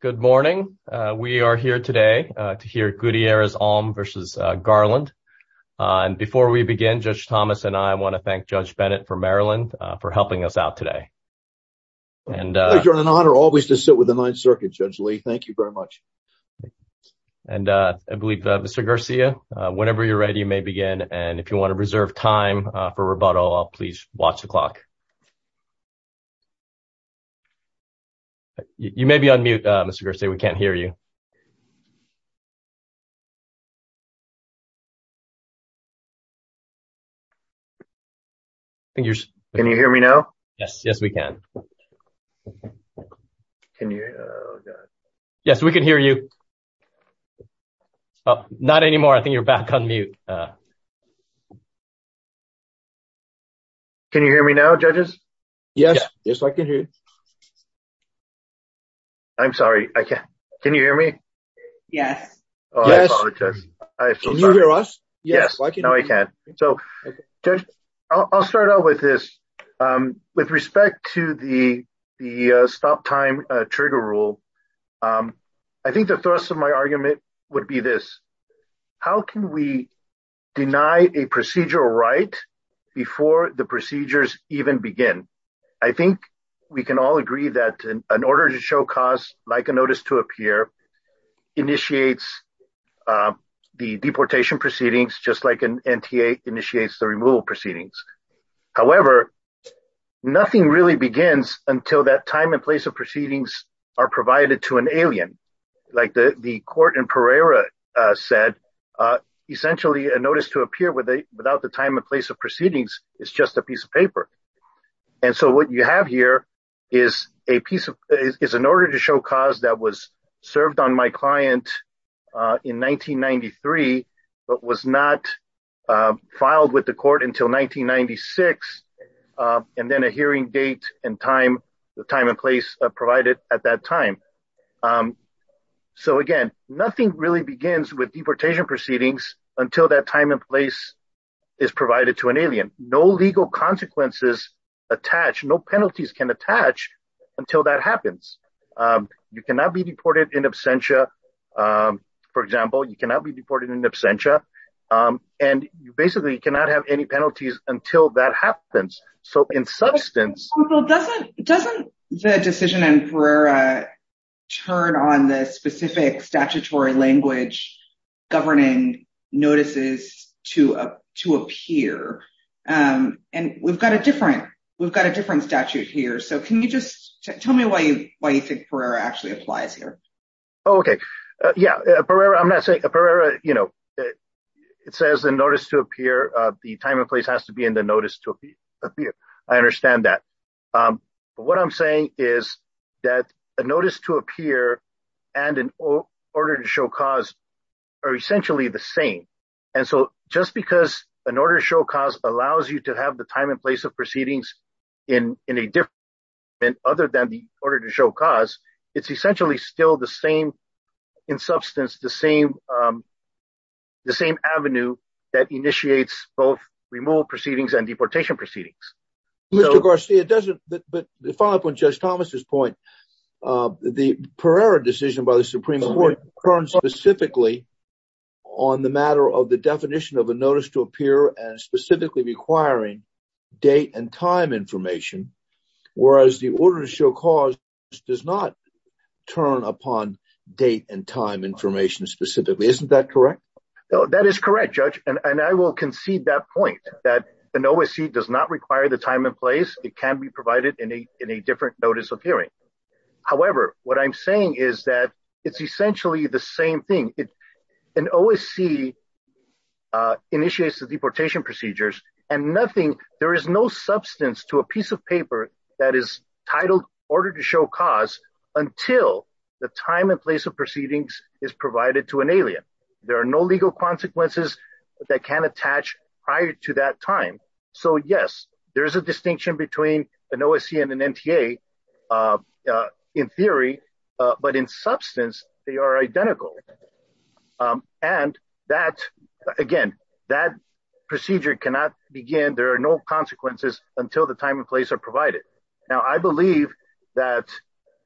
Good morning. We are here today to hear Gutierrez-Alm versus Garland. Before we begin, Judge Thomas and I want to thank Judge Bennett from Maryland for helping us out today. It's an honor always to sit with the Ninth Circuit, Judge Lee. Thank you very much. I believe that Mr. Garcia, whenever you're ready, you may begin. If you want to reserve time for rebuttal, please watch the clock. You may be on mute, Mr. Garcia. We can't hear you. Can you hear me now? Yes, yes, we can. Yes, we can hear you. Not anymore. I think you're back on mute. Can you hear me now, judges? Yes, yes, I can hear you. I'm sorry. Can you hear me? Yes. Can you hear us? Yes, now I can. So, Judge, I'll start out with this. With respect to the stop time trigger rule, I think the thrust of my argument would be this. How can we deny a procedural right before the procedures even begin? I think we can all agree that an order to show cause, like a notice to appear, initiates the deportation proceedings, just like an NTA initiates the removal proceedings. However, nothing really begins until that time and place of proceedings are provided to an alien, like the court in Pereira said. Essentially, a notice to appear without the time and place of proceedings is just a piece of paper. And so what you have here is an order to show cause that was served on my client in 1993, but was not filed with the court until 1996, and then a hearing date and time and place provided at that time. So, again, nothing really begins with deportation proceedings until that time and place is provided to an alien. No legal consequences attach. No penalties can attach until that happens. You cannot be deported in absentia. For example, you cannot be deported in absentia. And you basically cannot have any penalties until that happens. Doesn't the decision in Pereira turn on the specific statutory language governing notices to appear? And we've got a different statute here. So can you just tell me why you think Pereira actually applies here? OK, yeah, Pereira, I'm not saying Pereira, you know, it says the notice to appear, the time and place has to be in the notice to appear. I understand that. But what I'm saying is that a notice to appear and an order to show cause are essentially the same. And so just because an order to show cause allows you to have the time and place of proceedings in a different other than the order to show cause, it's essentially still the same in substance, the same avenue that initiates both removal proceedings and deportation proceedings. Mr. Garcia, but to follow up on Judge Thomas's point, the Pereira decision by the Supreme Court turns specifically on the matter of the definition of a notice to appear and specifically requiring date and time information. Whereas the order to show cause does not turn upon date and time information specifically. Isn't that correct? That is correct, Judge. And I will concede that point, that an OSC does not require the time and place. It can be provided in a different notice of hearing. However, what I'm saying is that it's essentially the same thing. An OSC initiates the deportation procedures and nothing, there is no substance to a piece of paper that is titled order to show cause until the time and place of proceedings is provided to an alien. There are no legal consequences that can attach prior to that time. So yes, there is a distinction between an OSC and an NTA in theory, but in substance, they are identical. And that, again, that procedure cannot begin. There are no consequences until the time and place are provided. Now, I believe that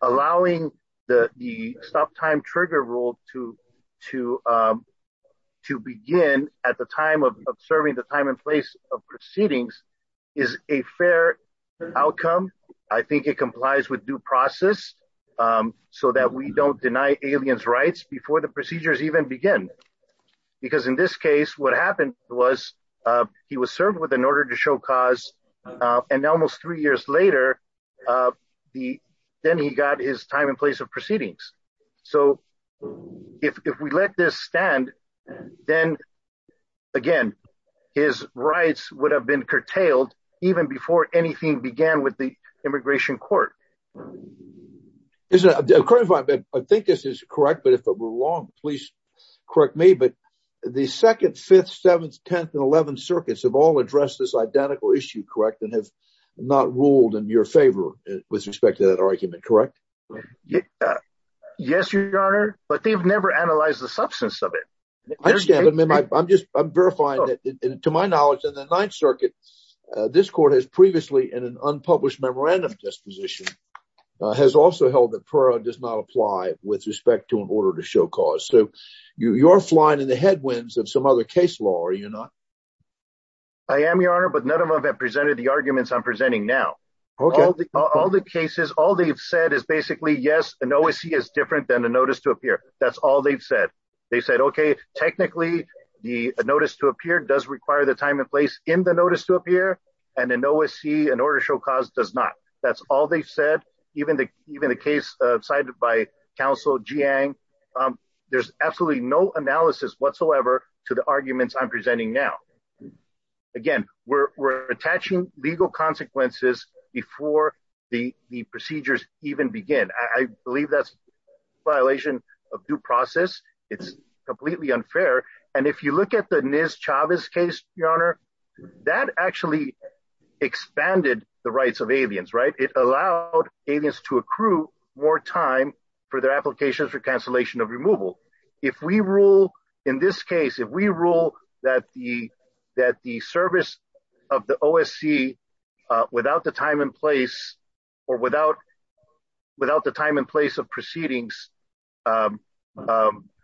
allowing the stop time trigger rule to begin at the time of serving the time and place of proceedings is a fair outcome. I think it complies with due process so that we don't deny aliens rights before the procedures even begin. Because in this case, what happened was he was served with an order to show cause and almost three years later, then he got his time and place of proceedings. So, if we let this stand, then, again, his rights would have been curtailed, even before anything began with the immigration court. I think this is correct, but if it were wrong, please correct me. But the 2nd, 5th, 7th, 10th, and 11th circuits have all addressed this identical issue, correct, and have not ruled in your favor with respect to that argument, correct? Yes, Your Honor, but they've never analyzed the substance of it. I understand, but I'm just verifying that, to my knowledge, in the 9th circuit, this court has previously, in an unpublished memorandum disposition, has also held that PERA does not apply with respect to an order to show cause. So, you're flying in the headwinds of some other case law, are you not? I am, Your Honor, but none of them have presented the arguments I'm presenting now. All the cases, all they've said is basically, yes, an OSC is different than a notice to appear. That's all they've said. They said, okay, technically, the notice to appear does require the time and place in the notice to appear, and an OSC, an order to show cause, does not. That's all they've said. Even the case cited by counsel Jiang, there's absolutely no analysis whatsoever to the arguments I'm presenting now. Again, we're attaching legal consequences before the procedures even begin. I believe that's a violation of due process. It's completely unfair. And if you look at the NIS Chavez case, Your Honor, that actually expanded the rights of aliens, right? It allowed aliens to accrue more time for their applications for cancellation of removal. If we rule, in this case, if we rule that the service of the OSC, without the time and place, or without the time and place of proceedings,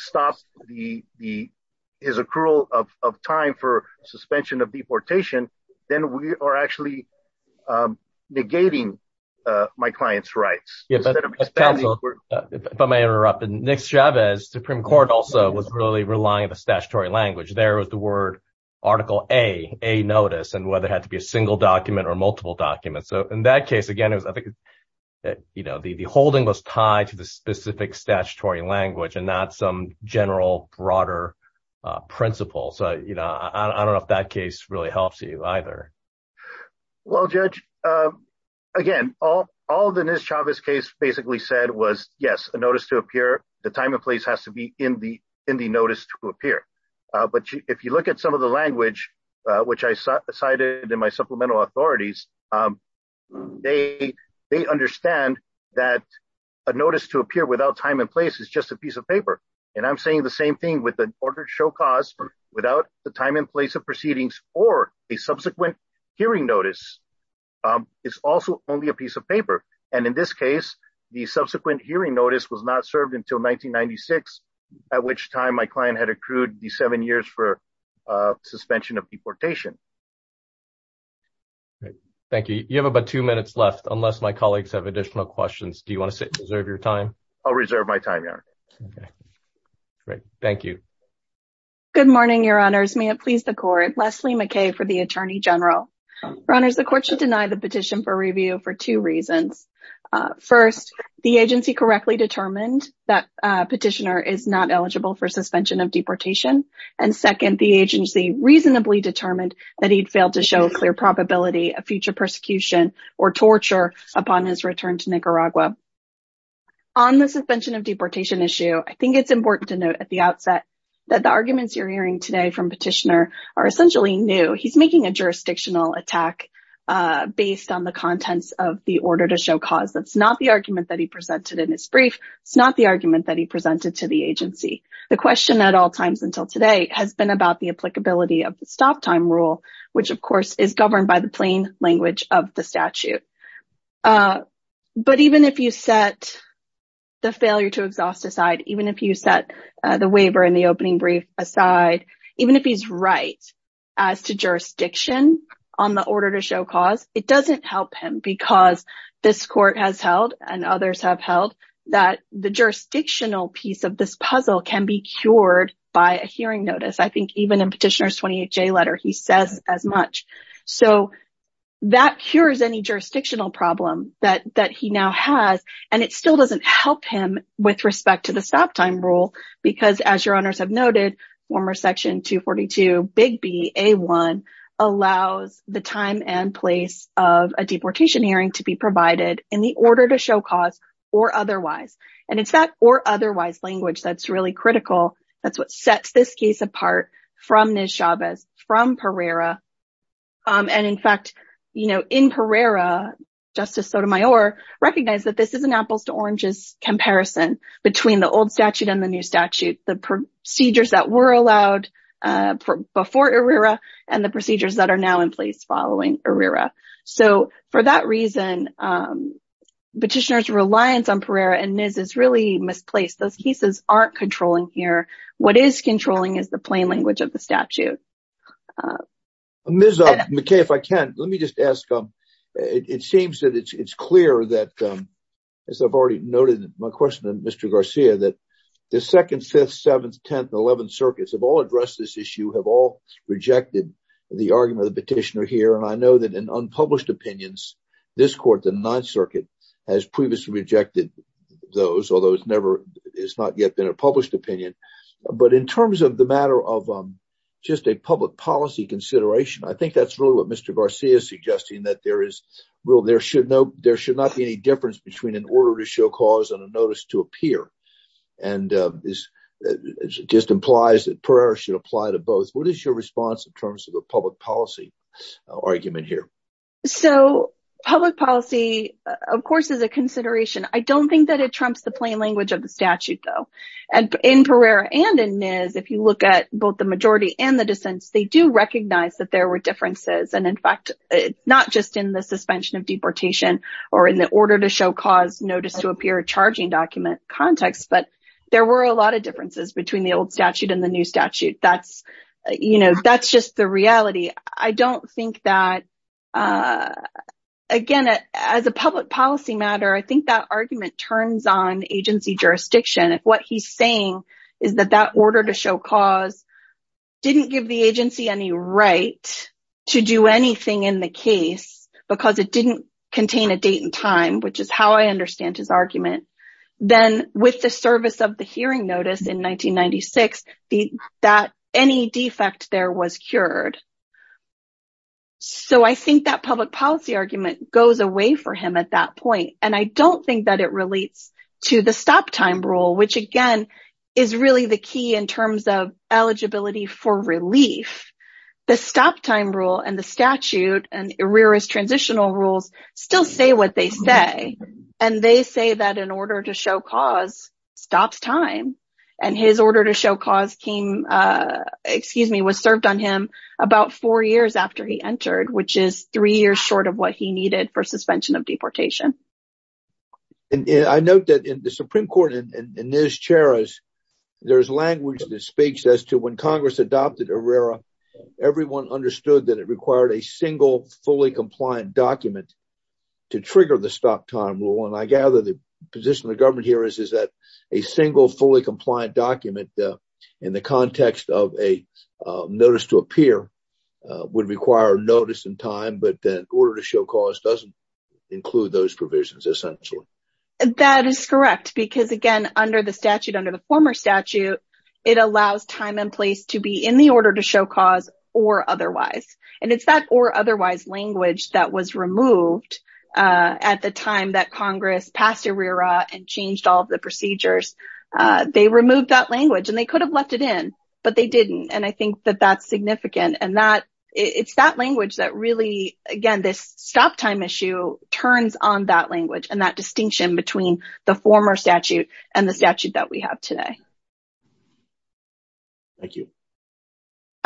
stops his accrual of time for suspension of deportation, then we are actually negating my client's rights. If I may interrupt, NIS Chavez Supreme Court also was really relying on the statutory language. There was the word Article A, a notice, and whether it had to be a single document or multiple documents. So in that case, again, I think the holding was tied to the specific statutory language and not some general, broader principle. So I don't know if that case really helps you either. Well, Judge, again, all the NIS Chavez case basically said was, yes, a notice to appear, the time and place has to be in the notice to appear. But if you look at some of the language, which I cited in my supplemental authorities, they understand that a notice to appear without time and place is just a piece of paper. And I'm saying the same thing with an order to show cause without the time and place of proceedings or a subsequent hearing notice is also only a piece of paper. And in this case, the subsequent hearing notice was not served until 1996, at which time my client had accrued the seven years for suspension of deportation. Thank you. You have about two minutes left, unless my colleagues have additional questions. Do you want to sit and reserve your time? I'll reserve my time, Your Honor. Great. Thank you. Good morning, Your Honors. May it please the court. Leslie McKay for the Attorney General. Your Honors, the court should deny the petition for review for two reasons. First, the agency correctly determined that petitioner is not eligible for suspension of deportation. And second, the agency reasonably determined that he'd failed to show a clear probability of future persecution or torture upon his return to Nicaragua. On the suspension of deportation issue, I think it's important to note at the outset that the arguments you're hearing today from petitioner are essentially new. He's making a jurisdictional attack based on the contents of the order to show cause. That's not the argument that he presented in his brief. It's not the argument that he presented to the agency. The question at all times until today has been about the applicability of the stop time rule, which, of course, is governed by the plain language of the statute. But even if you set the failure to exhaust aside, even if you set the waiver in the opening brief aside, even if he's right as to jurisdiction on the order to show cause, it doesn't help him because this court has held and others have held that the jurisdictional piece of this puzzle can be cured by a hearing notice. I think even in petitioner's 28-J letter, he says as much. So that cures any jurisdictional problem that he now has. And it still doesn't help him with respect to the stop time rule because, as your honors have noted, former Section 242, Big B, A1 allows the time and place of a deportation hearing to be provided in the order to show cause or otherwise. And it's that or otherwise language that's really critical. That's what sets this case apart from Ms. Chavez, from Pereira. And, in fact, you know, in Pereira, Justice Sotomayor recognized that this is an apples to oranges comparison between the old statute and the new statute, the procedures that were allowed before ERIRA and the procedures that are now in place following ERIRA. So for that reason, petitioner's reliance on Pereira and Ms. Chavez is really misplaced. Those cases aren't controlling here. What is controlling is the plain language of the statute. Ms. McKay, if I can, let me just ask. It seems that it's clear that, as I've already noted in my question to Mr. Garcia, that the 2nd, 5th, 7th, 10th and 11th circuits have all addressed this issue, have all rejected the argument of the petitioner here. And I know that in unpublished opinions, this court, the 9th Circuit, has previously rejected those, although it's not yet been a published opinion. But in terms of the matter of just a public policy consideration, I think that's really what Mr. Garcia is suggesting, that there should not be any difference between an order to show cause and a notice to appear. And this just implies that Pereira should apply to both. What is your response in terms of a public policy? What is your argument here? So, public policy, of course, is a consideration. I don't think that it trumps the plain language of the statute, though. In Pereira and in Ms., if you look at both the majority and the dissents, they do recognize that there were differences. And, in fact, not just in the suspension of deportation or in the order to show cause notice to appear charging document context, but there were a lot of differences between the old statute and the new statute. That's just the reality. I don't think that, again, as a public policy matter, I think that argument turns on agency jurisdiction. What he's saying is that that order to show cause didn't give the agency any right to do anything in the case because it didn't contain a date and time, which is how I understand his argument. Then, with the service of the hearing notice in 1996, any defect there was cured. So, I think that public policy argument goes away for him at that point. And I don't think that it relates to the stop time rule, which, again, is really the key in terms of eligibility for relief. The stop time rule and the statute and Pereira's transitional rules still say what they say. And they say that an order to show cause stops time. And his order to show cause came, excuse me, was served on him about four years after he entered, which is three years short of what he needed for suspension of deportation. And I note that in the Supreme Court in this chair, there's language that speaks as to when Congress adopted a rare, everyone understood that it required a single, fully compliant document to trigger the stop time rule. And I gather the position of the government here is that a single, fully compliant document in the context of a notice to appear would require notice and time, but that order to show cause doesn't include those provisions, essentially. That is correct because, again, under the statute, under the former statute, it allows time and place to be in the order to show cause or otherwise. And it's that or otherwise language that was removed at the time that Congress passed a rear and changed all of the procedures. They removed that language and they could have left it in, but they didn't. And I think that that's significant and that it's that language that really, again, this stop time issue turns on that language and that distinction between the former statute and the statute that we have today. Thank you.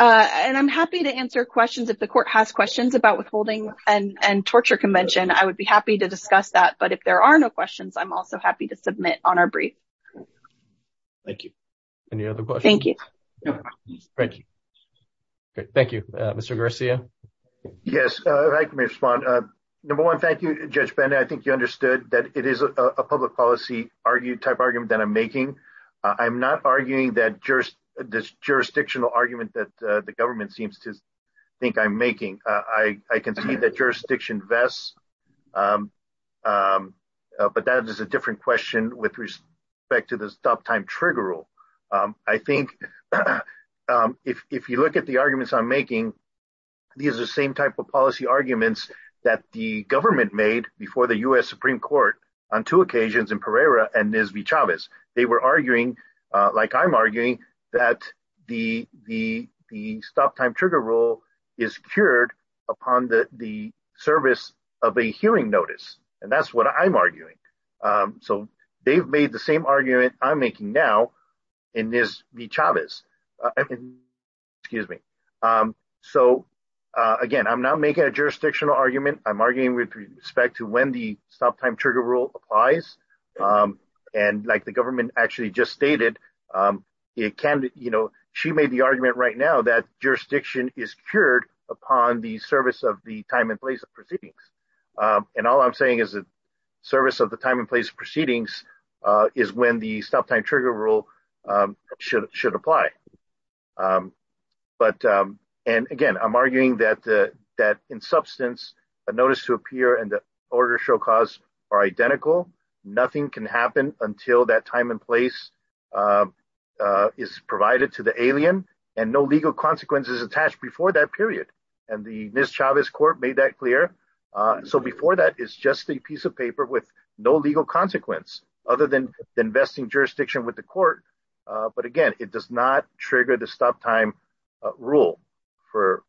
And I'm happy to answer questions if the court has questions about withholding and torture convention. I would be happy to discuss that. But if there are no questions, I'm also happy to submit on our brief. Thank you. Any other questions? Thank you. Thank you. Thank you, Mr. Garcia. Yes, I can respond. Number one, thank you, Judge Benda. I think you understood that it is a public policy type argument that I'm making. I'm not arguing that just this jurisdictional argument that the government seems to think I'm making. I can see that jurisdiction vests, but that is a different question with respect to the stop time trigger rule. I think if you look at the arguments I'm making, these are the same type of policy arguments that the government made before the U.S. Supreme Court on two occasions in Pereira and Ms. V. Chavez. They were arguing, like I'm arguing, that the stop time trigger rule is cured upon the service of a hearing notice. And that's what I'm arguing. So they've made the same argument I'm making now in Ms. V. Chavez. Excuse me. So, again, I'm not making a jurisdictional argument. I'm arguing with respect to when the stop time trigger rule applies. And like the government actually just stated, she made the argument right now that jurisdiction is cured upon the service of the time and place of proceedings. And all I'm saying is the service of the time and place of proceedings is when the stop time trigger rule should apply. But, and again, I'm arguing that in substance, a notice to appear and the order show cause are identical. Nothing can happen until that time and place is provided to the alien and no legal consequences attached before that period. And the Ms. Chavez court made that clear. So before that, it's just a piece of paper with no legal consequence other than vesting jurisdiction with the court. But, again, it does not trigger the stop time rule for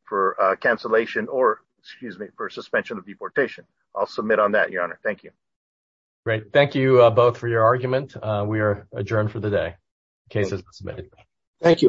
cancellation or, excuse me, for suspension of deportation. I'll submit on that, Your Honor. Thank you. Great. Thank you both for your argument. We are adjourned for the day. Case is submitted. Thank you.